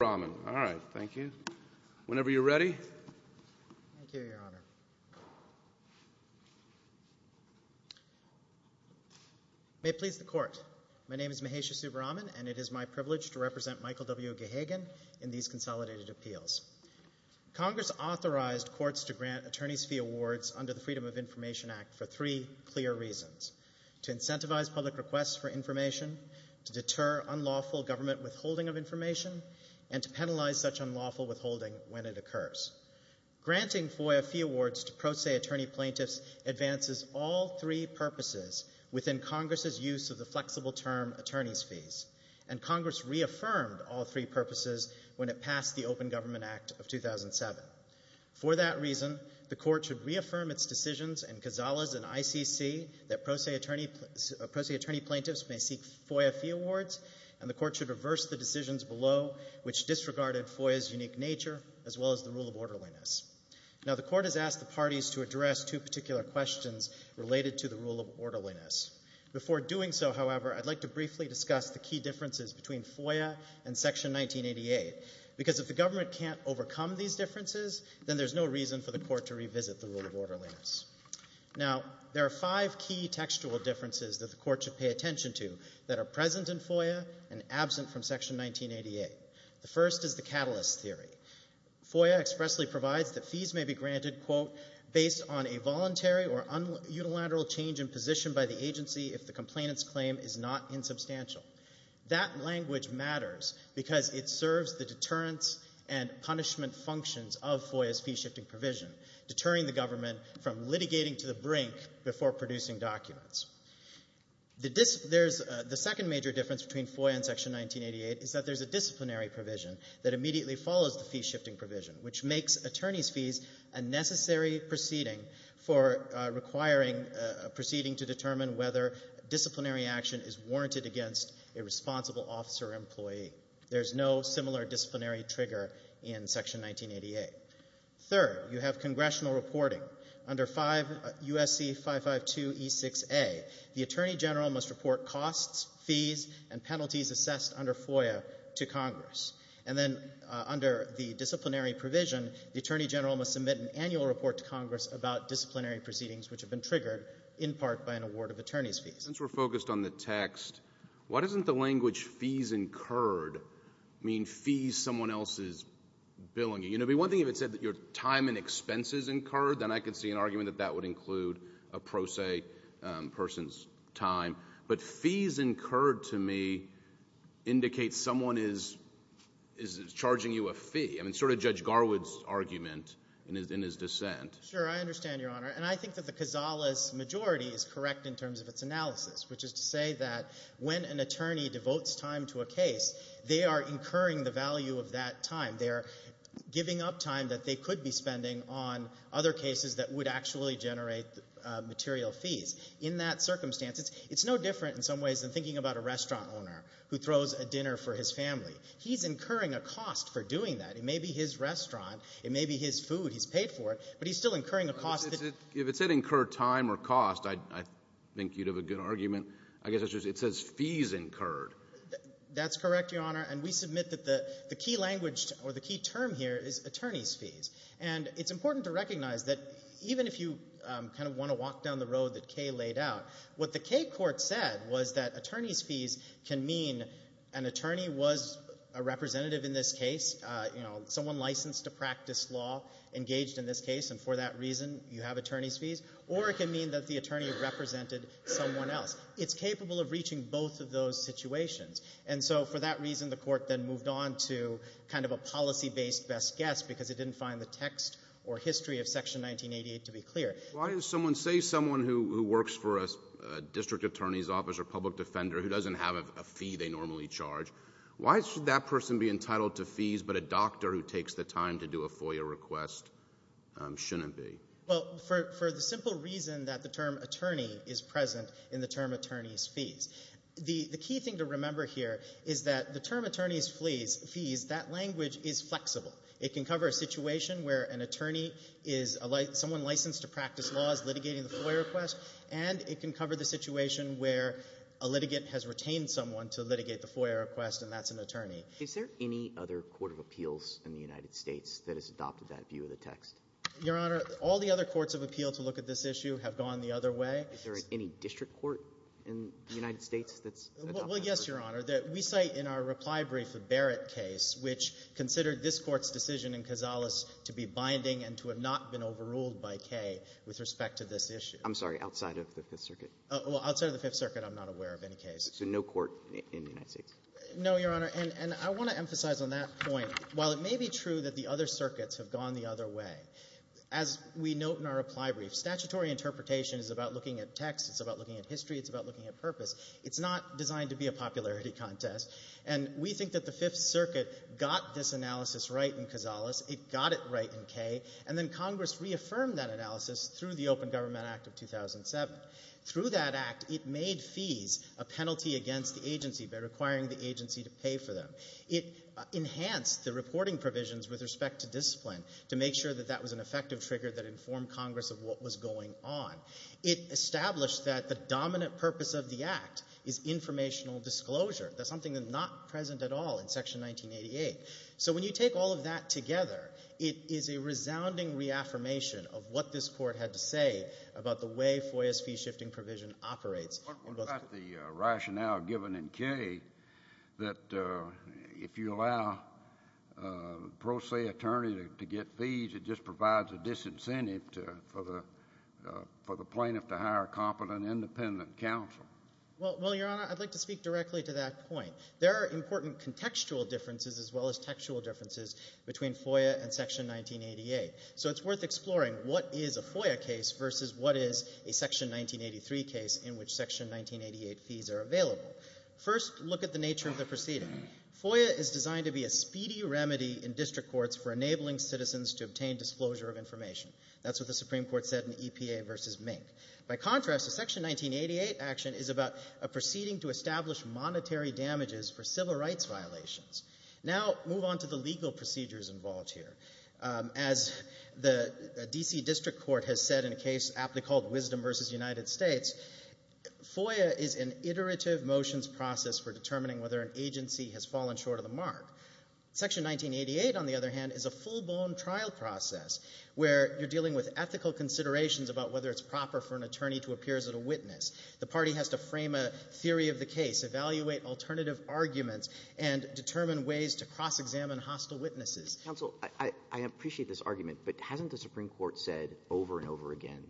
May it please the Court, my name is Mahesha Subramanian and it is my privilege to represent Michael W. Gahagan in these consolidated appeals. Congress authorized courts to grant attorneys fee awards under the Freedom of Information Act for three clear reasons. To incentivize public requests for information, to deter unlawful government withholding of information, and to penalize such unlawful withholding when it occurs. Granting FOIA fee awards to pro se attorney plaintiffs advances all three purposes within Congress' use of the flexible term attorneys fees, and Congress reaffirmed all three purposes when it passed the Open Government Act of 2007. For that reason, the Court should reaffirm its decisions in Casillas and ICC that pro se attorney plaintiffs may seek FOIA fee awards, and the Court should reverse the decisions below which disregarded FOIA's unique nature, as well as the rule of orderliness. Now the Court has asked the parties to address two particular questions related to the rule of orderliness. Before doing so, however, I'd like to briefly discuss the key differences between FOIA and Section 1988, because if the government can't overcome these differences, then there's no reason for the Court to revisit the rule of orderliness. Now there are five key textual differences that the Court should pay attention to that are present in FOIA and absent from Section 1988. The first is the catalyst theory. FOIA expressly provides that fees may be granted, quote, based on a voluntary or unilateral change in position by the agency if the complainant's claim is not insubstantial. That language matters because it serves the deterrence and punishment functions of FOIA's fee-shifting provision, deterring the government from litigating to the brink before producing documents. The second major difference between FOIA and Section 1988 is that there's a disciplinary provision that immediately follows the fee-shifting provision, which makes attorney's fees a necessary proceeding for requiring a proceeding to determine whether disciplinary action is warranted against a responsible officer or employee. There's no similar disciplinary trigger in Section 1988. Third, you have congressional reporting. Under USC 552e6a, the attorney general must report costs, fees, and penalties assessed under FOIA to Congress. And then under the disciplinary provision, the attorney general must submit an annual report to Congress about disciplinary proceedings which have been triggered in part by an award of attorney's fees. Since we're focused on the text, why doesn't the language fees incurred mean fees someone else is billing? You know, it would be one thing if it said that your time and expenses incurred, then I could see an argument that that would include a pro se person's time. But fees incurred to me indicates someone is charging you a fee. I mean, sort of Judge Garwood's argument in his dissent. Sure. I understand, Your Honor. And I think that the Casales majority is correct in terms of its analysis, which is to say that when an attorney devotes time to a case, they are incurring the value of that time. They are giving up time that they could be spending on other cases that would actually generate material fees. In that circumstance, it's no different in some ways than thinking about a restaurant owner who throws a dinner for his family. He's incurring a cost for doing that. It may be his restaurant. It may be his food. He's paid for it. But he's still incurring a cost. If it said incurred time or cost, I think you'd have a good argument. I guess it says fees incurred. That's correct, Your Honor. And we submit that the key language or the key term here is attorney's fees. And it's important to recognize that even if you kind of want to walk down the road that Kay laid out, what the Kay court said was that attorney's fees can mean an attorney was a representative in this case. You know, someone licensed to practice law, engaged in this case, and for that reason you have attorney's fees. Or it can mean that the attorney represented someone else. It's capable of reaching both of those situations. And so for that reason, the court then moved on to kind of a policy-based best guess because it didn't find the text or history of Section 1988 to be clear. Why would someone say someone who works for a district attorney's office or public defender who doesn't have a fee they normally charge, why should that person be entitled to fees but a doctor who takes the time to do a FOIA request shouldn't be? Well, for the simple reason that the term attorney is present in the term attorney's fees. The key thing to remember here is that the term attorney's fees, that language is flexible. It can cover a situation where an attorney is someone licensed to practice laws litigating the FOIA request, and it can cover the situation where a litigant has retained someone to litigate the FOIA request and that's an attorney. Is there any other court of appeals in the United States that has adopted that view of the text? Your Honor, all the other courts of appeal to look at this issue have gone the other way. Is there any district court in the United States that's adopted that? Well, yes, Your Honor. We cite in our reply brief the Barrett case, which considered this Court's decision in Casales to be binding and to have not been overruled by Kay with respect to this issue. I'm sorry, outside of the Fifth Circuit? Well, outside of the Fifth Circuit, I'm not aware of any case. So no court in the United States? No, Your Honor. And I want to emphasize on that point, while it may be true that the other circuits have gone the other way, as we note in our reply brief, statutory interpretation is about looking at text. It's about looking at history. It's about looking at purpose. It's not designed to be a popularity contest. And we think that the Fifth Circuit got this analysis right in Casales. It got it right in Kay. And then Congress reaffirmed that analysis through the Open Government Act of 2007. Through that act, it made fees a penalty against the agency by requiring the agency to pay for them. It enhanced the reporting provisions with respect to discipline to make sure that that was an effective trigger that informed Congress of what was going on. It established that the dominant purpose of the act is informational disclosure. That's something that's not present at all in Section 1988. So when you take all of that together, it is a resounding reaffirmation of what this Court had to say about the way FOIA's fee-shifting provision operates. What about the rationale given in Kay that if you allow a pro se attorney to get fees, it just provides a disincentive for the plaintiff to hire a competent independent counsel? Well, Your Honour, I'd like to speak directly to that point. There are important contextual differences as well as textual differences between FOIA and Section 1988. So it's worth exploring what is a FOIA case versus what is a Section 1983 case in which Section 1988 fees are available. First, look at the nature of the proceeding. FOIA is designed to be a speedy remedy in district courts for enabling citizens to obtain disclosure of information. That's what the Supreme Court said in EPA v. Mink. By contrast, a Section 1988 action is about a proceeding to establish monetary damages for civil rights violations. Now move on to the legal procedures involved here. As the D.C. District Court has said in a case aptly called Wisdom v. United States, FOIA is an iterative motions process for determining whether an agency has fallen short of the mark. Section 1988, on the other hand, is a full-blown trial process where you're dealing with ethical considerations about whether it's proper for an attorney to appear as a witness. The party has to frame a theory of the case, evaluate alternative arguments, and determine ways to cross-examine hostile witnesses. Counsel, I appreciate this argument, but hasn't the Supreme Court said over and over again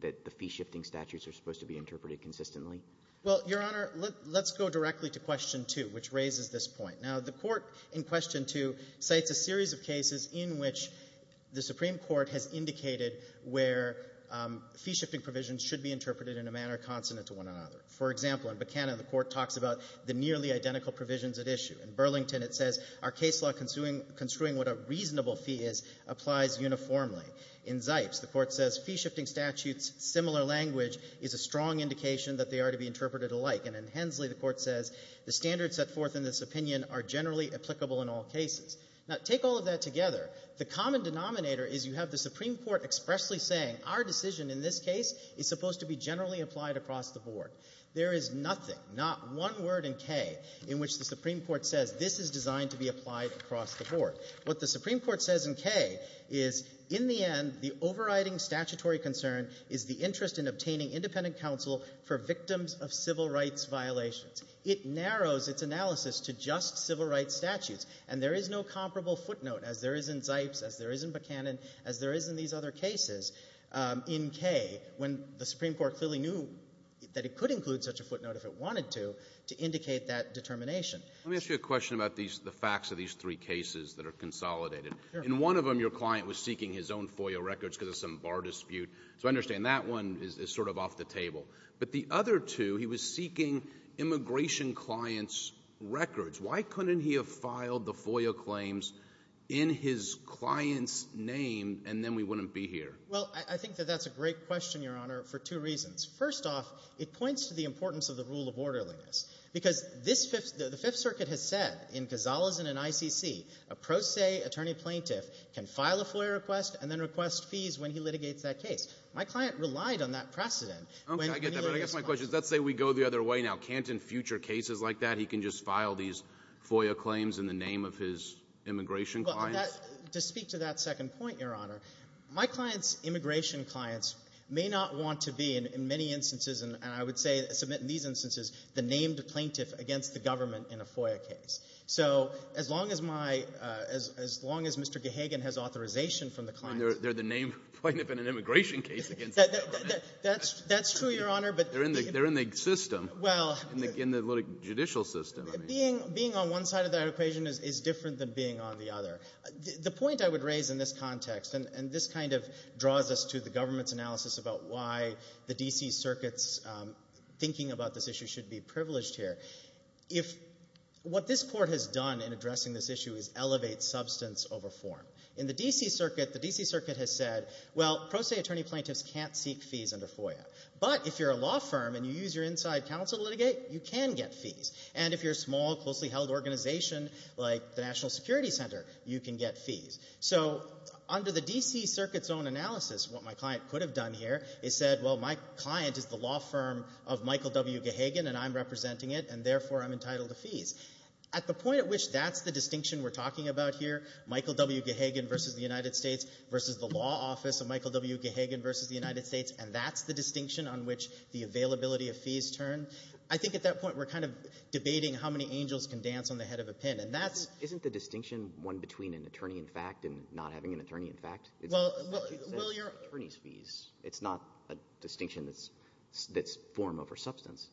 that the fee-shifting statutes are supposed to be interpreted consistently? Well, Your Honour, let's go directly to question 2, which raises this point. Now, the Court in question 2 cites a series of cases in which the Supreme Court has indicated where fee-shifting provisions should be interpreted in a manner consonant to one another. For example, in Buchanan, the Court talks about the nearly identical provisions at issue. In Burlington, it says our case law construing what a reasonable fee is applies uniformly. In Zipes, the Court says fee-shifting statutes, similar language, is a strong indication that they are to be interpreted alike. And in Hensley, the Court says the standards set forth in this opinion are generally applicable in all cases. Now, take all of that together. The common denominator is you have the Supreme Court expressly saying our decision in this case is supposed to be generally applied across the board. There is nothing, not one word in K, in which the Supreme Court says this is designed to be applied across the board. What the Supreme Court says in K is in the end, the overriding statutory concern is the interest in obtaining independent counsel for victims of civil rights violations. It narrows its analysis to just civil rights statutes. And there is no comparable footnote, as there is in Zipes, as there is in Buchanan, as there is in these other cases, in K, when the Supreme Court clearly knew that it could include such a footnote if it wanted to, to indicate that determination. Let me ask you a question about the facts of these three cases that are consolidated. In one of them, your client was seeking his own FOIA records because of some bar dispute. So I understand that one is sort of off the table. But the other two, he was seeking immigration clients' records. Why couldn't he have filed the FOIA claims in his client's name and then we wouldn't be here? Well, I think that that's a great question, Your Honor, for two reasons. First off, it points to the importance of the rule of orderliness. Because the Fifth Circuit has said in Gonzales and in ICC, a pro se attorney plaintiff can file a FOIA request and then request fees when he litigates that case. My client relied on that precedent. Okay, I get that. But I guess my question is, let's say we go the other way now. Can't in future cases like that he can just file these FOIA claims in the name of his immigration clients? Well, to speak to that second point, Your Honor, my client's immigration clients may not want to be, in many instances and I would say submit in these instances, the named plaintiff against the government in a FOIA case. So as long as my — as long as Mr. Gahagan has authorization from the client. And they're the named plaintiff in an immigration case against the government. That's true, Your Honor. They're in the system. In the judicial system. Being on one side of that equation is different than being on the other. The point I would raise in this context, and this kind of draws us to the government's analysis about why the D.C. Circuit's thinking about this issue should be privileged here. What this Court has done in addressing this issue is elevate substance over form. In the D.C. Circuit, the D.C. Circuit has said, well, pro se attorney plaintiffs can't seek fees under FOIA. But if you're a law firm and you use your inside counsel to litigate, you can get fees. And if you're a small, closely held organization like the National Security Center, you can get fees. So under the D.C. Circuit's own analysis, what my client could have done here is said, well, my client is the law firm of Michael W. Gahagan and I'm representing it and therefore I'm entitled to fees. At the point at which that's the distinction we're talking about here, Michael W. Gahagan versus the United States, versus the law office of Michael W. Gahagan versus the United States, and that's the distinction on which the availability of fees turn, I think at that point we're kind of debating how many angels can dance on the head of a pin. And that's... Isn't the distinction one between an attorney-in-fact and not having an attorney-in-fact? It's not a distinction that's form over substance.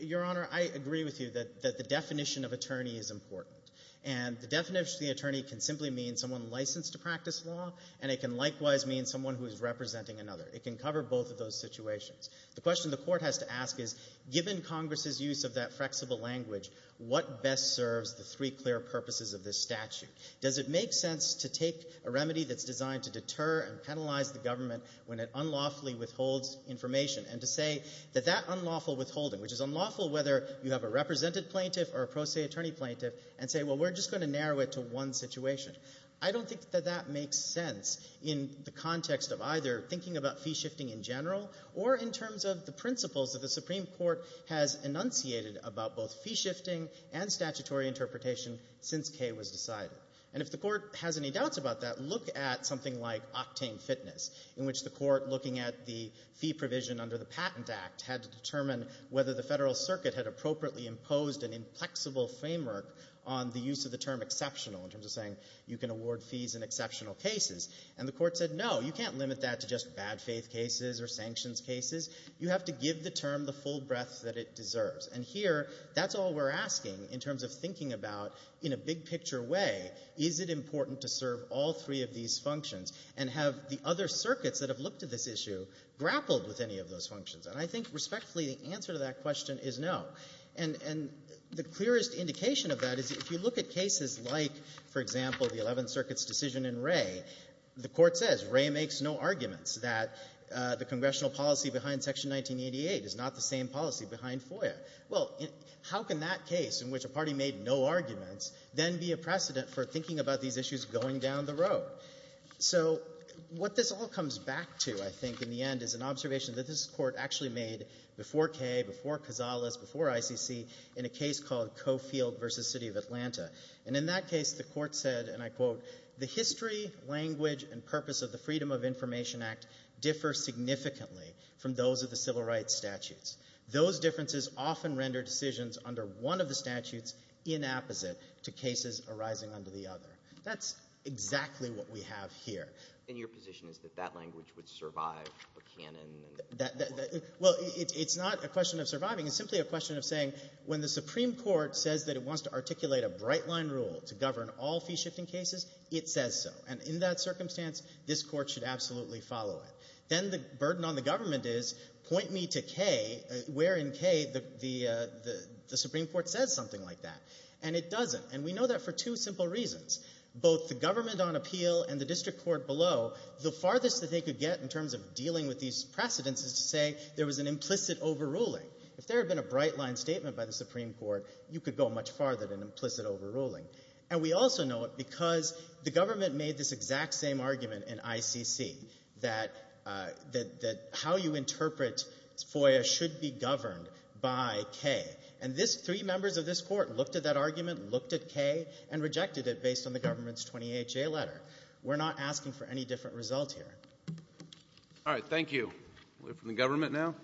Your Honor, I agree with you that the definition of attorney is important. And the definition of the attorney can simply mean someone licensed to practice law and it can likewise mean someone who is representing another. It can cover both of those situations. The question the Court has to ask is given Congress's use of that flexible language, what best serves the three clear purposes of this statute? Does it make sense to take a remedy that's designed to deter and penalize the government when it unlawfully withholds information and to say that unlawful withholding, which is unlawful whether you have a represented plaintiff or a pro se attorney plaintiff, and say, well, we're just going to narrow it to one situation. I don't think that that makes sense in the context of either thinking about fee shifting in general or in terms of the principles that the Supreme Court has enunciated about both fee shifting and statutory interpretation since Kay was decided. And if the Court has any doubts about that, look at something like Octane Fitness in which the Court, looking at the fee provision under the Patent Act, had to determine whether the Federal Circuit had appropriately imposed an inflexible framework on the use of the term exceptional in terms of saying you can award fees in exceptional cases. And the Court said, no, you can't limit that to just bad faith cases or sanctions cases. You have to give the term the full breadth that it deserves. And here, that's all we're asking in terms of thinking about in a big picture way, is it important to serve all three of these functions and have the other case issue grappled with any of those functions? And I think, respectfully, the answer to that question is no. And the clearest indication of that is if you look at cases like, for example, the Eleventh Circuit's decision in Wray, the Court says Wray makes no arguments that the Congressional policy behind Section 1988 is not the same policy behind FOIA. Well, how can that case in which a party made no arguments then be a precedent for thinking about these issues going down the road? So, what this all comes back to, I think, in the end, is an observation that this Court actually made before Kaye, before Casales, before ICC, in a case called Coffield v. City of Atlanta. And in that case, the Court said, and I quote, the history, language, and purpose of the Freedom of Information Act differ significantly from those of the civil rights statutes. Those differences often render decisions under one of the statutes inapposite to cases arising under the other. That's exactly what we have here. And your position is that that language would survive Buchanan? Well, it's not a question of surviving. It's simply a question of saying when the Supreme Court says that it wants to articulate a bright-line rule to govern all fee-shifting cases, it says so. And in that circumstance, this Court should absolutely follow it. Then the burden on the government is point me to Kaye, where in Kaye the Supreme Court says something like that. And it doesn't. And we know that for two simple reasons. Both the government on appeal and the District Court below, the farthest that they could get in terms of dealing with these precedents is to say there was an implicit overruling. If there had been a bright-line statement by the Supreme Court, you could go much farther than an implicit overruling. And we also know it because the government made this exact same argument in ICC that how you interpret FOIA should be governed by Kaye. And this, three years ago, the Supreme Court rejected Kaye and rejected it based on the government's 28-J letter. We're not asking for any different results here. Alright, thank you. We'll hear from the government now.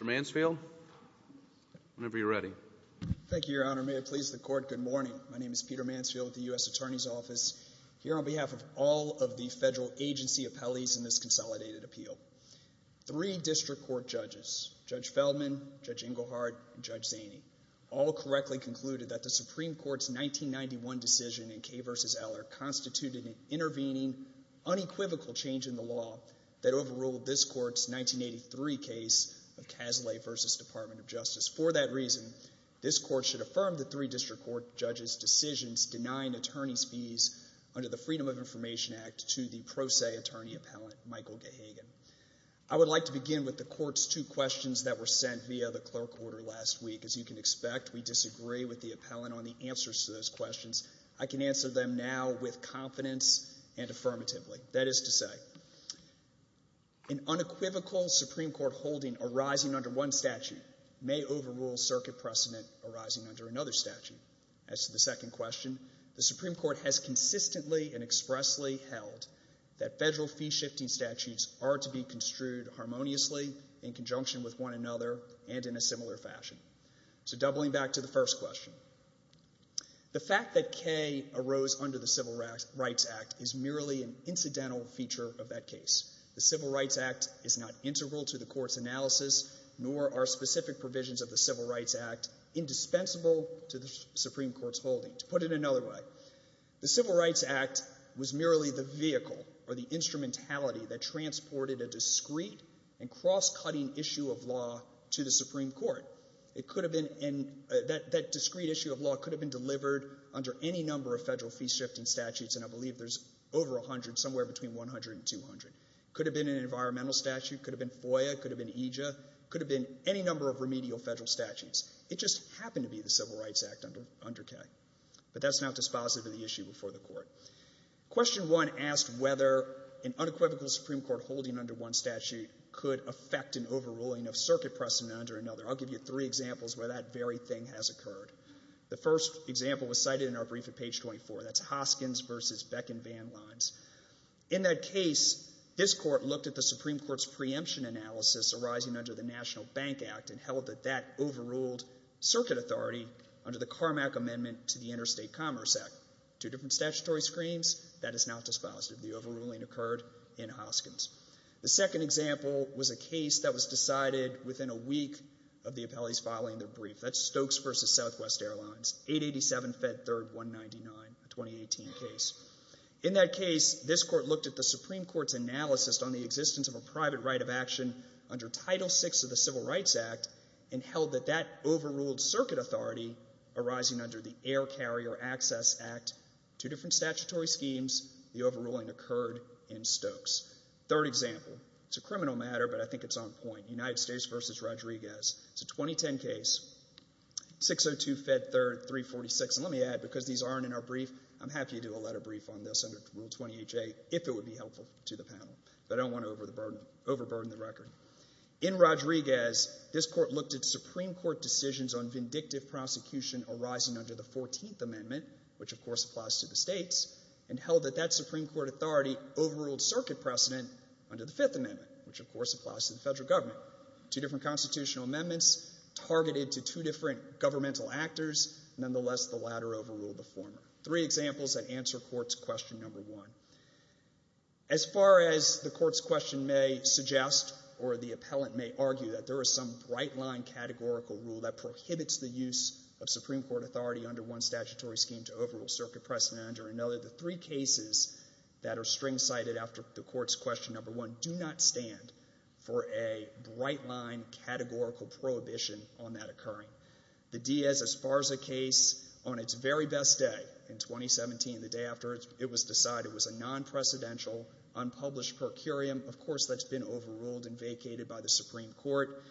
Mr. Mansfield. Whenever you're ready. Thank you, Your Honor. May it please the Court, good morning. My name is Peter Mansfield with the U.S. Attorney's Office. Here on behalf of all of the federal agency appellees in this consolidated appeal. Three District Court judges, Judge Feldman, Judge Engelhardt, and Judge Zaney, all correctly concluded that the Supreme Court's 1991 decision in Kaye v. Eller constituted an intervening, unequivocal change in the law that overruled this Court's 1983 case of Cazalet v. Department of Justice. For that reason, this Court should affirm the three District Court judges' decisions denying attorneys' fees under the Freedom of Information Act to the pro se attorney appellant, Michael Gahagan. I would like to begin with the Court's two questions that were sent via the clerk order last week. As you can expect, we disagree with the appellant on the answers to those questions. I can answer them now with confidence and affirmatively. That is to say, an unequivocal Supreme Court holding arising under one statute may overrule circuit precedent arising under another statute. As to the second question, the Supreme Court has consistently and expressly held that the statute ought to be construed harmoniously in conjunction with one another and in a similar fashion. So doubling back to the first question, the fact that Kaye arose under the Civil Rights Act is merely an incidental feature of that case. The Civil Rights Act is not integral to the Court's analysis nor are specific provisions of the Civil Rights Act indispensable to the Supreme Court's holding. To put it another way, the Civil Rights Act was merely the vehicle or the instrumentality that transported a discrete and cross-cutting issue of law to the Supreme Court. It could have been that discrete issue of law could have been delivered under any number of federal fee-shifting statutes, and I believe there's over 100, somewhere between 100 and 200. It could have been an environmental statute, could have been FOIA, could have been EJA, could have been any number of remedial federal statutes. It just happened to be the Civil Rights Act under Kaye. But that's not dispositive of the issue before the Court. Question one asked whether an unequivocal Supreme Court holding under one statute could affect an overruling of circuit precedent under another. I'll give you three examples where that very thing has occurred. The first example was cited in our brief at page 24. That's Hoskins v. Beck and Van Lines. In that case, this Court looked at the Supreme Court's preemption analysis arising under the National Bank Act and held that that overruled circuit authority under the Carmack Amendment to the Interstate Commerce Act. Two different statutory screams. That is not dispositive. The overruling occurred in Hoskins. The second example was a case that was decided within a week of the appellees filing their brief. That's Stokes v. Southwest Airlines, 887 Fed Third 199, a 2018 case. In that case, this Court looked at the Supreme Court's analysis on the existence of a private right of action under Title VI of the Civil Rights Act and held that that overruled circuit authority arising under the Air Carrier Access Act. Two different statutory schemes. The overruling occurred in Stokes. Third example. It's a criminal matter, but I think it's on point. United States v. Rodriguez. It's a 2010 case. 602 Fed Third 346. And let me add, because these aren't in our brief, I'm happy to do a letter brief on this under Rule 28a if it would be helpful to the panel. I don't want to overburden the record. In Rodriguez, this Court looked at Supreme Court decisions on vindictive prosecution arising under the Fourteenth Amendment, which, of course, applies to the states, and held that that Supreme Court authority overruled circuit precedent under the Fifth Amendment, which, of course, applies to the federal government. Two different constitutional amendments targeted to two different governmental actors. Nonetheless, the latter overruled the former. Three examples that answer Court's question number one. As far as the Court's question may suggest or the appellant may argue that there was some bright-line categorical rule that prohibits the use of Supreme Court authority under one statutory scheme to overrule circuit precedent under another, the three cases that are string-sided after the Court's question number one do not stand for a bright-line categorical prohibition on that occurring. The Diaz-Esparza case, on its very best day in 2017, the day after it was decided, was a non-precedential, unpublished per curiam. Of course, that's been overruled and vacated by the Supreme Court,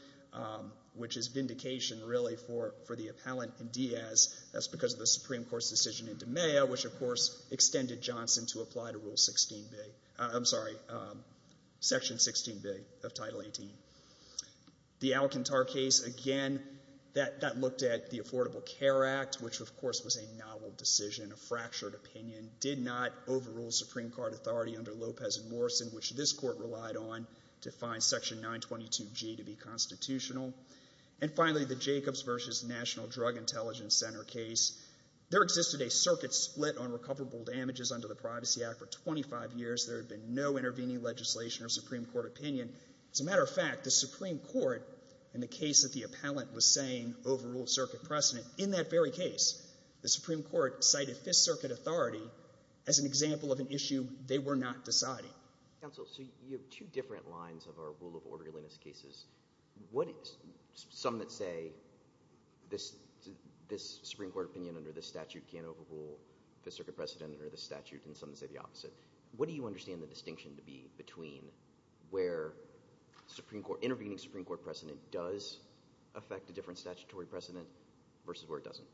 which is vindication, really, for the appellant in Diaz. That's because of the Supreme Court's decision in DiMea, which, of course, extended Johnson to apply to Rule 16b. I'm sorry, Section 16b of Title 18. The Alcantar case, again, that looked at the Affordable Care Act, which, of course, was a novel decision, a fractured opinion, did not overrule Supreme Court authority under Lopez and Morrison, which this Court relied on to find Section 922G to be constitutional. And finally, the Jacobs v. National Drug Intelligence Center case. There existed a circuit split on recoverable damages under the Privacy Act for 25 years. There had been no intervening legislation or Supreme Court opinion. As a matter of fact, the Supreme Court, in the case that the appellant was saying overruled circuit precedent, in that very case, the Supreme Court cited Fifth Circuit authority as an example of an issue they were not deciding. Counsel, so you have two different lines of our rule of orderliness cases. Some that say this Supreme Court opinion under this statute can't overrule Fifth Circuit precedent under this statute, and some that say the opposite. What do you understand the distinction to be between where intervening Supreme Court precedent does affect a different statutory precedent versus where it doesn't?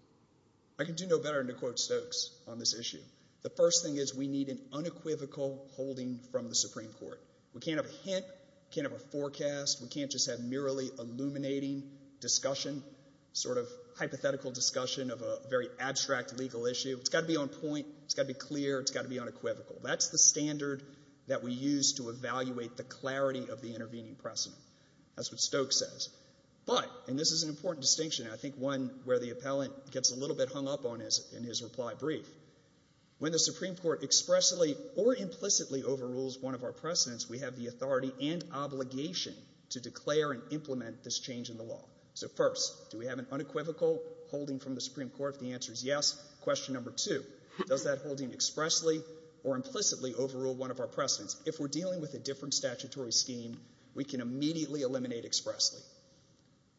I can do no better than to quote Stokes on this issue. The first thing is we need an unequivocal holding from the Supreme Court. We can't have a hint. We can't have a forecast. We can't just have merely illuminating discussion, sort of hypothetical discussion of a very abstract legal issue. It's got to be on point. It's got to be clear. It's got to be unequivocal. That's the standard that we use to evaluate the clarity of the intervening precedent. That's what Stokes says. But, and this is an important distinction, and I think one where the appellant gets a little bit hung up on in his reply brief. When the Supreme Court expressly or implicitly overrules one of our precedents, we have the authority and obligation to declare and implement this change in the law. So, first, do we have an unequivocal holding from the Supreme Court if the answer is yes? Question number two, does that holding expressly or implicitly overrule one of our precedents? If we're dealing with a different statutory scheme, we can immediately eliminate expressly.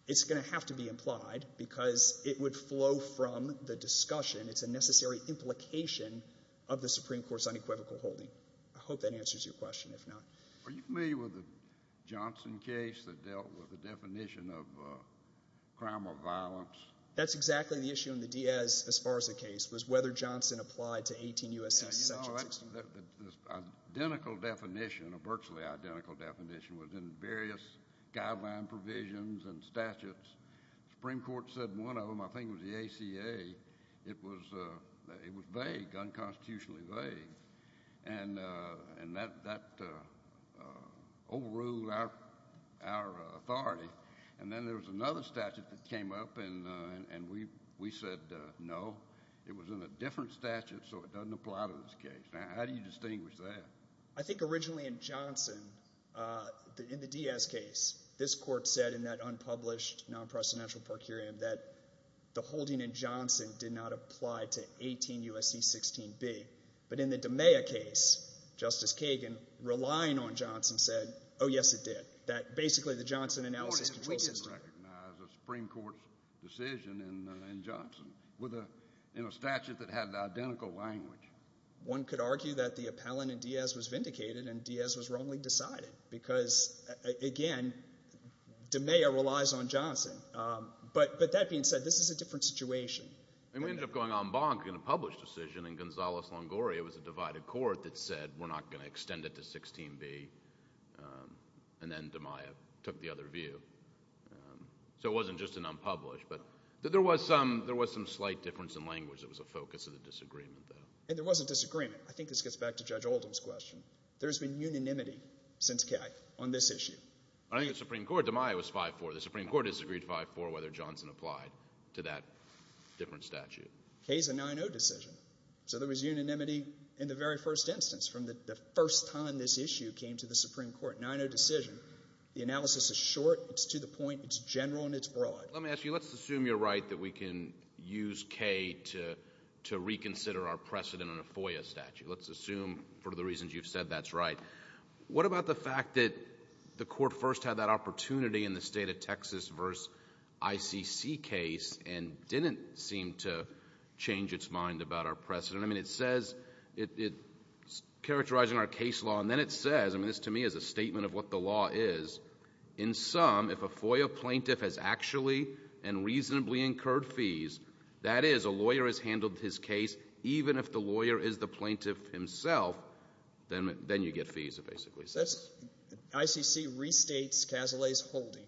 It's going to have to be implied because it would flow from the discussion. It's a necessary implication of the Supreme Court's unequivocal holding. I hope that answers your question, if not. Are you familiar with the Johnson case that dealt with the definition of crime or violence? That's exactly the issue in the Diaz-Esparza case, was whether Johnson applied to 18 U.S.C. statutes. Now, you know, that's an identical definition, a virtually identical definition within various guideline provisions and statutes. The Supreme Court said one of them. I think it was the ACA. It was vague, unconstitutionally vague. And that overruled our authority. And then there was another statute that came up and we said no. It was in a different statute, so it doesn't apply to this case. Now, how do you distinguish that? I think originally in Johnson, in the Diaz case, this court said in that unpublished non-presidential per curiam that the holding in Johnson did not apply to 18 U.S.C. 16B. But in the DeMeya case, Justice Kagan, relying on Johnson, said, oh, yes, it did. That basically the Johnson analysis control system. We didn't recognize a Supreme Court decision in Johnson in a statute that had the identical language. One could argue that the appellant in Diaz was vindicated and Diaz was wrongly decided because, again, DeMeya relies on Johnson. But that being said, this is a different situation. And we ended up going en banc in a published decision in Gonzales-Longoria. It was a divided court that said we're not going to extend it to 16B. And then DeMeya took the other view. So it wasn't just an unpublished. But there was some slight difference in language that was a focus of the disagreement, though. And there was a disagreement. I think this gets back to Judge Oldham's question. There's been unanimity since Kay on this issue. I think the Supreme Court, DeMeya was 5-4. The Supreme Court disagreed 5-4 whether Johnson applied to that different statute. Kay's a 9-0 decision. So there was unanimity in the very first instance from the first time this issue came to the Supreme Court. 9-0 decision. The analysis is short. It's to the point. It's general and it's broad. Let me ask you, let's assume you're right that we can use Kay to reconsider our precedent on a FOIA statute. Let's assume, for the reasons you've said, that's right. What about the fact that the Court first had that opportunity in the state of Texas versus ICC case and didn't seem to change its mind about our precedent? I mean, it says, characterizing our case law, and then it says, I mean, this to me is a statement of what the law is, in some, if a FOIA plaintiff has actually and reasonably incurred fees, that is, a lawyer has handled his case, even if the lawyer is the plaintiff himself, then you get fees, it basically says. ICC restates Cazalet's holding.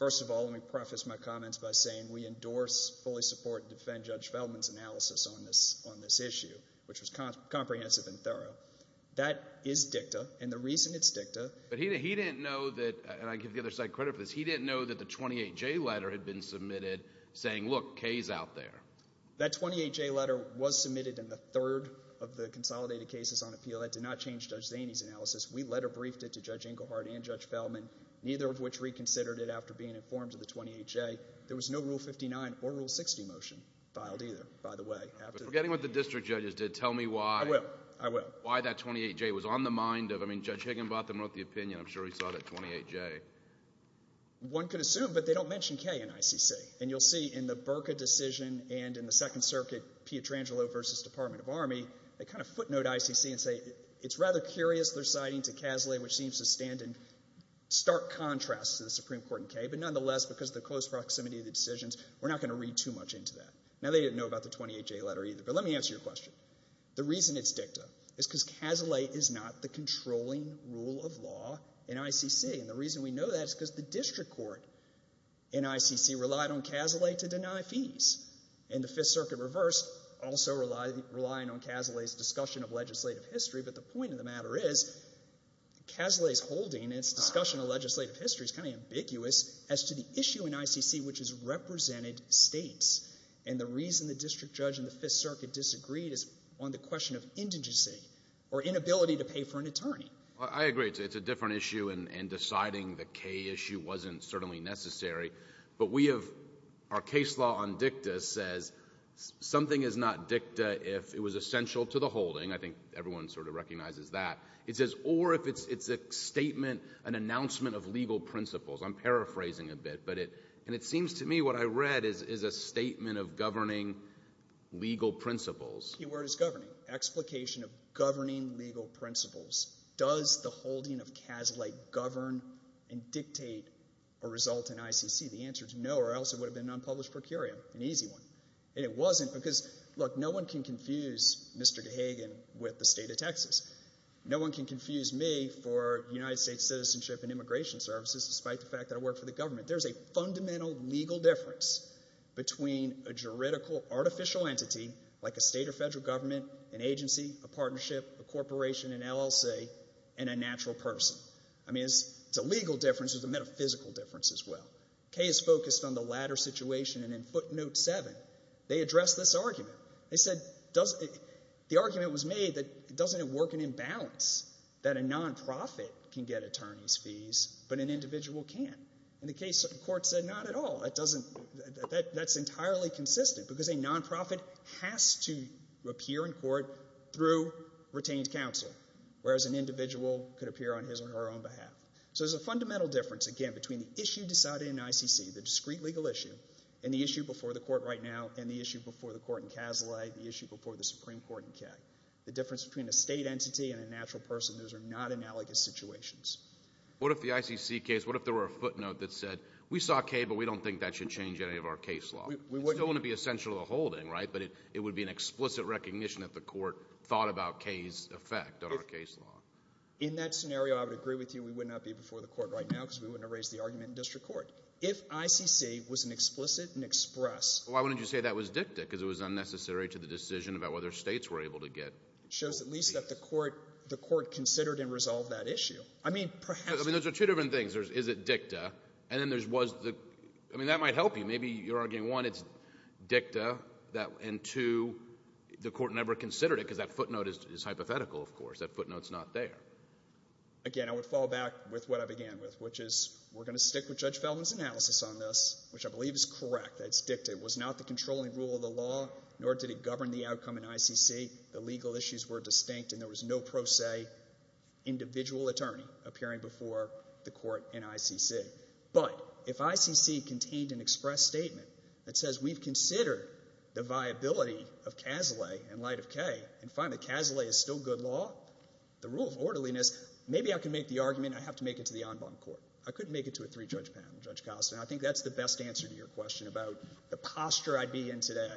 First of all, let me preface my comments by saying we endorse, fully support, and defend Judge Feldman's analysis on this issue, which was comprehensive and thorough. That is dicta, and the reason it's dicta... But he didn't know that, and I give the other side credit for this, he didn't know that the 28J letter had been submitted saying, look, Kay's out there. That 28J letter was submitted in the third of the consolidated cases on appeal. That did not change Judge Zaney's analysis. We letter-briefed it to Judge Engelhardt and Judge Feldman, neither of which reconsidered it after being informed of the 28J. There was no Rule 59 or Rule 60 motion filed either, by the way. Forgetting what the district judges did, tell me why. I will, I will. Why that 28J was on the mind of, I mean, Judge Higginbotham wrote the opinion, I'm sure he saw that 28J. One could assume, but they don't mention Kay in ICC. And you'll see in the Burka decision and in the Second Circuit, Pietrangelo versus Department of Army, they kind of footnote ICC and say, it's rather curious their citing to Kaslay, which seems to stand in stark contrast to the Supreme Court and Kay, but nonetheless, because of the close proximity of the decisions, we're not going to read too much into that. Now, they didn't know about the 28J letter either, but let me answer your question. The reason it's dicta is because Kaslay is not the controlling rule of law in ICC, and the reason we know that is because the district court in ICC relied on Kaslay to deny fees, and the Fifth Circuit reversed, also relying on Kaslay's discussion of legislative history, but the point of the matter is Kaslay's holding its discussion of legislative history is kind of ambiguous as to the issue in ICC which has represented states, and the reason the district judge and the Fifth Circuit disagreed is on the question of indigency, or inability to pay for an attorney. I agree, it's a different issue, and deciding the Kay issue wasn't certainly necessary, but we have our case law on dicta says something is not dicta if it was essential to the holding, I think everyone sort of recognizes that, or if it's a statement, an announcement of legal principles. I'm paraphrasing a bit, but it seems to me what I read is a statement of governing legal principles. Explication of governing legal principles. Does the holding of Kaslay govern and dictate a result in ICC? The answer is no, or else it would have been an unpublished procurium, an easy one. And it wasn't, because, look, no one can confuse Mr. Gahagan with the state of Texas. No one can confuse me for United States Citizenship and Immigration Services, despite the fact that I work for the government. There's a fundamental legal difference between a juridical, artificial entity like a state or federal government, an agency, a partnership, a corporation, an LLC, and a natural person. I mean, it's a legal difference, it's a metaphysical difference as well. Kay has focused on the latter situation and in footnote 7, they address this argument. They said, the argument was made that doesn't it work an imbalance that a non-profit can get attorney's fees, but an individual can't? And the case court said, not at all. That's entirely consistent, because a non-profit has to appear in court through retained counsel, whereas an individual could appear on his or her own behalf. So there's a fundamental difference, again, between the issue decided in ICC, the discreet legal issue, and the issue before the court right now, and the issue before the court in Casale, the issue before the Supreme Court in Kay. The difference between a state entity and a natural person, those are not analogous situations. What if the ICC case, what if there were a footnote that said, we saw Kay, but we don't think that should change any of our case law? It's still going to be essential to the holding, right? But it would be an explicit recognition that the court thought about Kay's effect on our case law. In that scenario, I would agree with you, we would not be before the court right now, because we wouldn't have raised the argument in district court. If ICC was an explicit and express... Why wouldn't you say that was dicta? Because it was unnecessary to the decision about whether states were able to get... It shows at least that the court considered and resolved that issue. I mean, perhaps... I mean, those are two different things. Is it dicta? And then there's, was the... I mean, that might help you. Maybe you're arguing, one, it's dicta, and two, the court never considered it, because that footnote is hypothetical, of course. That footnote's not there. Again, I would fall back with what I began with, which is, we're going to stick with Judge Feldman's analysis on this, which I believe is correct. It's dicta. It was not the controlling rule of the law, nor did it govern the outcome in ICC. The legal issues were distinct, and there was no pro se individual attorney appearing before the court in ICC. But, if ICC contained an express statement that says, we've considered the viability of Cazalet in light of Kay, and find that Cazalet is still good law, the rule of orderliness... Maybe I can make the argument, I have to make it to the en banc court. I couldn't make it to a three-judge panel, Judge Kallis, and I think that's the best answer to your question about the posture I'd be in today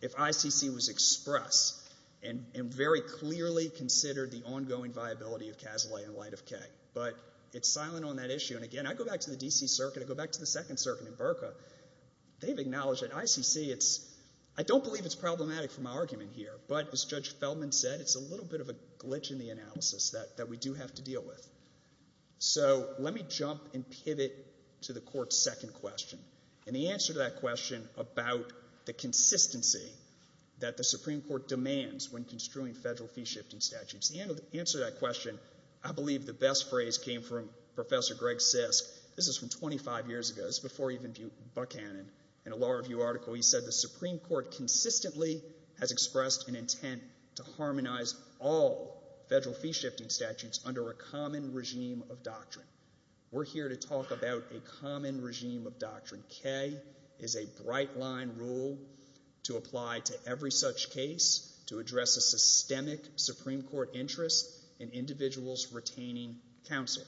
if ICC was express and very clearly considered the ongoing viability of Cazalet in light of Kay. But, it's silent on that issue, and again, I go back to the D.C. Circuit, I go back to the Second Circuit in Berka. They've acknowledged that ICC, it's... I don't believe it's problematic for my argument here, but as Judge Feldman said, it's a little bit of a glitch in the analysis that we do have to deal with. So, let me jump and pivot to the court's second question. And the answer to that question about the consistency that the Supreme Court demands when construing federal fee-shifting statutes. The answer to that question, I believe the best phrase came from Professor Greg Sisk. This is from 25 years ago. This is before even Buchanan. In a law review article, he said, the Supreme Court consistently has expressed an intent to harmonize all federal fee-shifting statutes under a common regime of doctrine. We're here to talk about a common regime of doctrine. Kay is a bright-line rule to apply to every such case to address a systemic Supreme Court interest in individuals retaining counsel.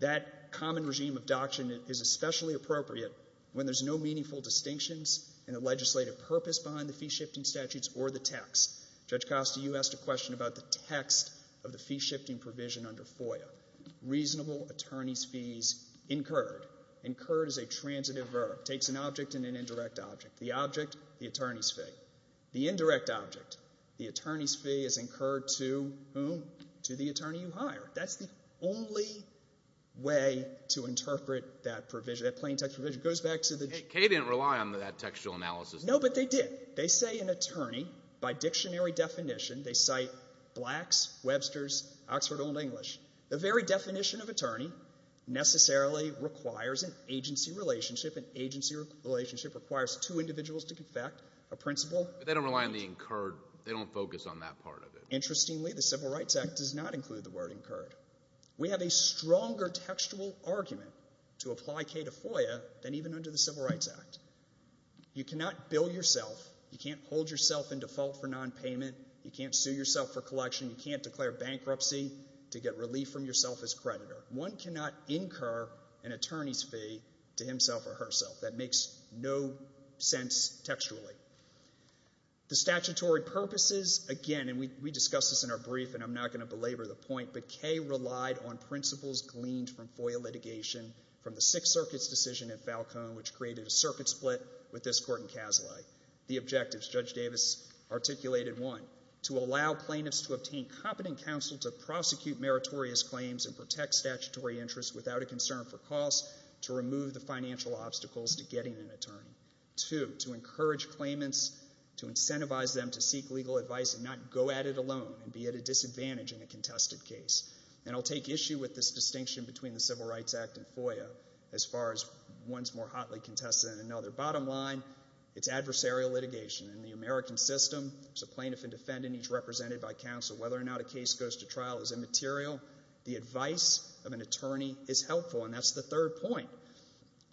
That common regime of doctrine is especially appropriate when there's no meaningful distinctions in the legislative purpose behind the fee-shifting statutes or the text. Judge Costa, you asked a question about the text of the fee-shifting provision under FOIA. Reasonable attorney's fees incurred. Incurred is a transitive verb. Takes an object and an indirect object. The object, the attorney's fee. The indirect object, the attorney's fee is incurred to whom? To the attorney you hire. That's the only way to interpret that provision, that plain text provision. It goes back to the Kay didn't rely on that textual analysis. No, but they did. They say an attorney by dictionary definition, they cite Blacks, Websters, Oxford Old English. The very definition of attorney necessarily requires an agency relationship. An agency relationship requires two individuals to confect a principle. But they don't rely on the incurred. They don't focus on that part of it. Interestingly, the Civil Rights Act does not include the word incurred. We have a stronger textual argument to apply Kay to FOIA than even under the Civil Rights Act. You cannot bill yourself. You can't hold yourself in default for non-payment. You can't sue yourself for collection. You can't declare bankruptcy to get relief from yourself as creditor. One cannot incur an attorney's fee to himself or herself. That makes no sense textually. The statutory purposes, again, and we discussed this in our brief, and I'm not going to belabor the point, but Kay relied on principles gleaned from FOIA litigation from the Sixth Circuit's decision at Falcone which created a circuit split with this court in Kaselai. The objectives, Judge Davis articulated one, to allow plaintiffs to obtain competent counsel to prosecute meritorious claims and protect statutory interests without a concern for costs, to remove the financial obstacles to getting an attorney. Two, to encourage claimants to incentivize them to seek legal advice and not go at it alone and be at a disadvantage in a contested case. And I'll take issue with this distinction between the Civil Rights Act and FOIA as far as one's more hotly contested than another. Bottom line, it's adversarial litigation. In the American system, there's a plaintiff and defendant each represented by counsel. Whether or not a case goes to trial is immaterial. The advice of an attorney is a third point.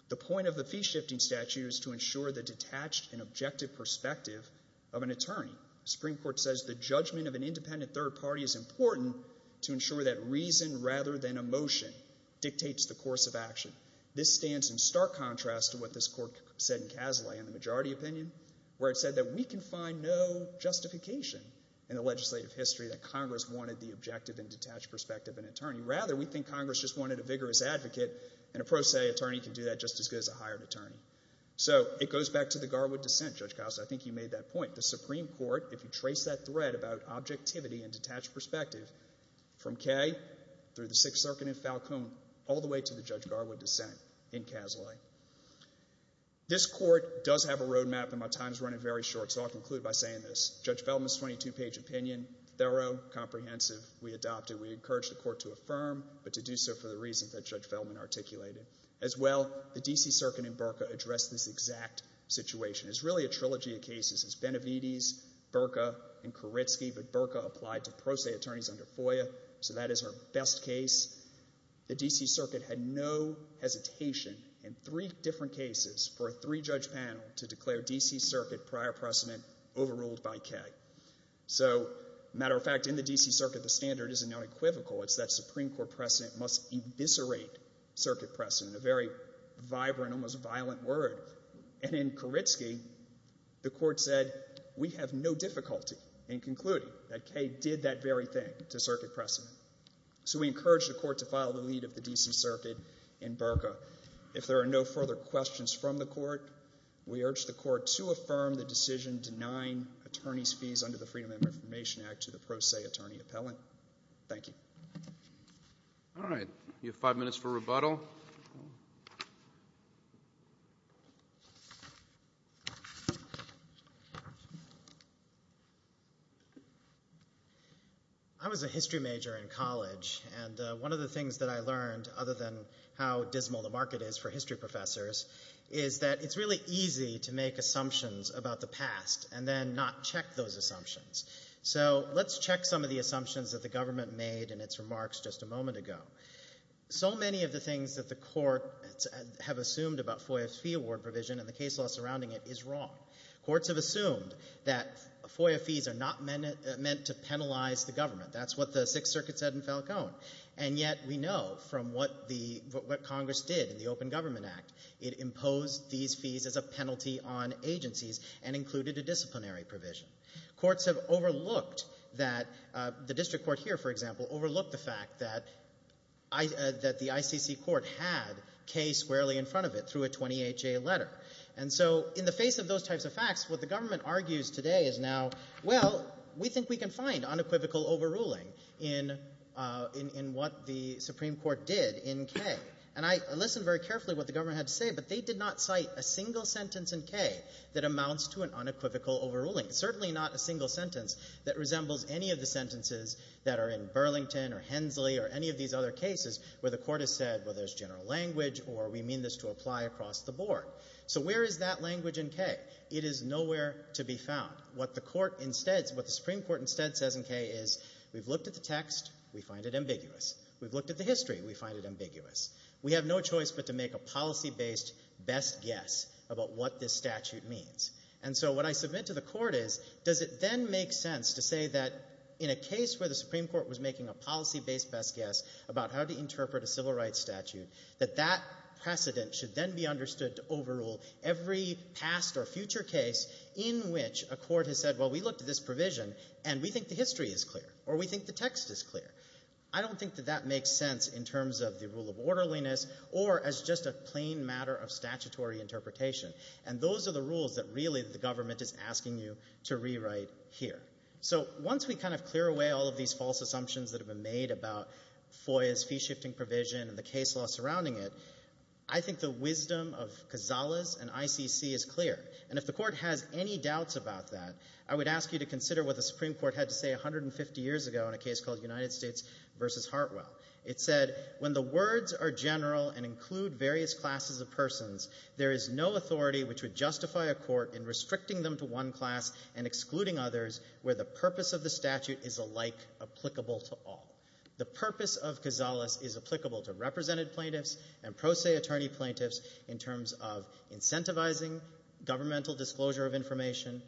The point of the fee-shifting statute is to ensure the detached and objective perspective of an attorney. The Supreme Court says the judgment of an independent third party is important to ensure that reason rather than emotion dictates the course of action. This stands in stark contrast to what this court said in Kaselai in the majority opinion where it said that we can find no justification in the legislative history that Congress wanted the objective and detached perspective of an attorney. Rather, we think Congress just wanted a vigorous advocate and a pro se attorney can do that just as good as a hired attorney. So, it goes back to the Garwood dissent, Judge Kouse. I think you made that point. The Supreme Court, if you trace that thread about objectivity and detached perspective from Kay through the Sixth Circuit in Falcone all the way to the Judge Garwood dissent in Kaselai. This court does have a road map and my time is running very short, so I'll conclude by saying this. Judge Feldman's 22-page opinion, thorough, comprehensive, we adopted. We encouraged the court to affirm, but to do so for the reasons that Judge Feldman articulated. As well, the D.C. Circuit and BRCA addressed this exact situation. It's really a trilogy of cases. It's Benavides, BRCA, and Kuritsky, but BRCA applied to pro se attorneys under FOIA, so that is our best case. The D.C. Circuit had no hesitation in three different cases for a three judge panel to declare D.C. Circuit prior precedent overruled by Kay. So, matter of fact, in the D.C. Circuit, the standard isn't unequivocal. It's that Supreme Court precedent must eviscerate circuit precedent, a very vibrant, almost violent word. And in Kuritsky, the court said, we have no difficulty in concluding that Kay did that very thing to circuit precedent. So we encouraged the court to file the lead of the D.C. Circuit in BRCA. If there are no further questions from the court, we urge the court to affirm the decision denying attorneys' fees under the Freedom of Information Act to the pro se attorney appellant. Thank you. All right. You have five minutes for rebuttal. I was a history major in college, and one of the things that I learned, other than how dismal the market is for history professors, is that it's really easy to make assumptions about the past and then not check those assumptions. So let's check some of the assumptions that the government made in its remarks just a moment ago. So many of the things that the court have assumed about FOIA's fee award provision and the case law surrounding it is wrong. Courts have assumed that FOIA fees are not meant to penalize the government. That's what the Sixth Circuit said in Falcone. And yet, we know from what Congress did in the Open Government Act, it imposed these fees as a penalty on agencies and included a disciplinary provision. Courts have overlooked that the district court here, for example, overlooked the fact that the ICC court had K squarely in front of it through a 28-J letter. And so, in the face of those types of facts, what the government argues today is now, well, we think we can find unequivocal overruling in what the Supreme Court did in K. And I listened very carefully to what the government had to say, but they did not cite a single sentence in K that amounts to an unequivocal overruling. Certainly not a single sentence that resembles any of the sentences that are in Burlington or Hensley or any of these other cases where the court has said, well, there's general language or we mean this to apply across the board. So where is that language in K? It is nowhere to be found. What the Supreme Court instead says in K is, we've looked at the text, we find it ambiguous. We've looked at the history, we find it ambiguous. We have no choice but to make a policy-based best guess about what this statute means. And so what I submit to the court is, does it then make sense to say that in a case where the Supreme Court was making a policy-based best guess about how to interpret a civil rights statute, that that precedent should then be understood to overrule every past or future case in which a court has said, well, we looked at this provision and we think the history is clear, or we think the text is clear. I don't think that makes sense in terms of the rule of orderliness or as just a plain matter of statutory interpretation. And those are the rules that really the government is asking you to rewrite here. So once we kind of clear away all of these false assumptions that have been made about FOIA's fee-shifting provision and the case law surrounding it, I think the wisdom of Kazala's and ICC is clear. And if the court has any doubts about that, I would ask you to consider what the Supreme Court had to say 150 years ago in a case called United States v. Hartwell. It said, when the words are general and include various classes of persons, there is no authority which would justify a court in restricting them to one class and excluding others where the purpose of the statute is alike applicable to all. The purpose of Kazala's is applicable to represented plaintiffs and pro se attorney plaintiffs in terms of incentivizing governmental disclosure of information,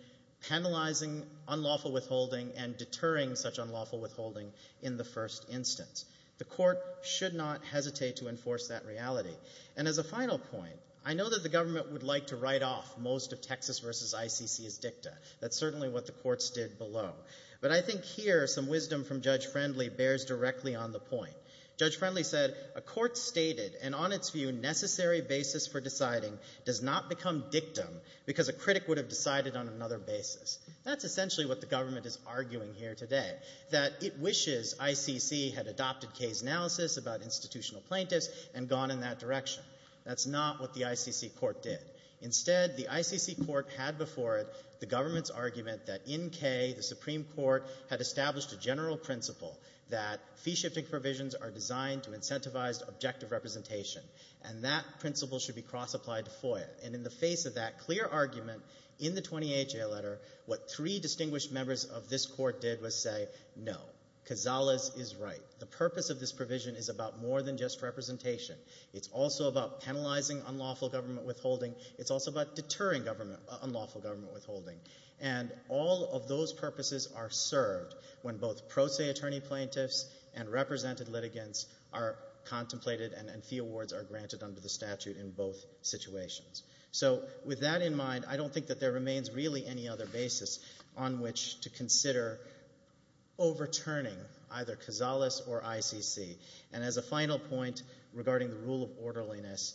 penalizing unlawful withholding and deterring such unlawful withholding in the first instance. The court should not hesitate to enforce that reality. And as a final point, I know that the government would like to write off most of Texas v. ICC's dicta. That's certainly what the courts did below. But I think here some wisdom from Judge Friendly bears directly on the point. Judge Friendly said a court stated, and on its view necessary basis for deciding does not become dictum because a critic would have decided on another basis. That's essentially what the government is arguing here today. That it wishes ICC had adopted Kay's analysis about institutional plaintiffs and gone in that direction. That's not what the ICC court did. Instead the ICC court had before it the government's argument that in Kay the Supreme Court had established a general principle that fee shifting provisions are designed to incentivize objective representation. And that principle should be cross-applied to FOIA. And in the face of that clear argument in the 28th Jail Letter, what three distinguished members of this court did was say, no. Cazales is right. The purpose of this provision is about more than just representation. It's also about penalizing unlawful government withholding. It's also about deterring unlawful government withholding. And all of those purposes are served when both pro se attorney plaintiffs and represented litigants are contemplated and fee awards are granted under the statute in both situations. So with that in mind, I don't think that there remains really any other basis on which to consider overturning either Cazales or ICC. And as a final point regarding the rule of orderliness,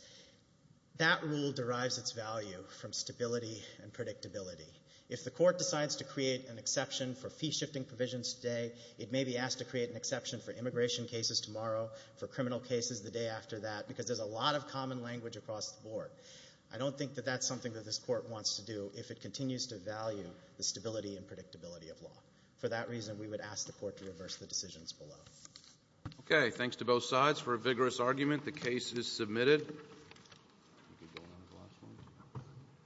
that rule derives its value from stability and predictability. If the court decides to create an exception for fee shifting provisions today, it may be asked to create an exception for immigration cases tomorrow, for criminal cases the day after that, because there's a lot of I don't think that that's something that this court wants to do if it continues to value the stability and predictability of law. For that reason, we would ask the court to reverse the decisions below. Okay. Thanks to both sides for a vigorous argument. The case is submitted.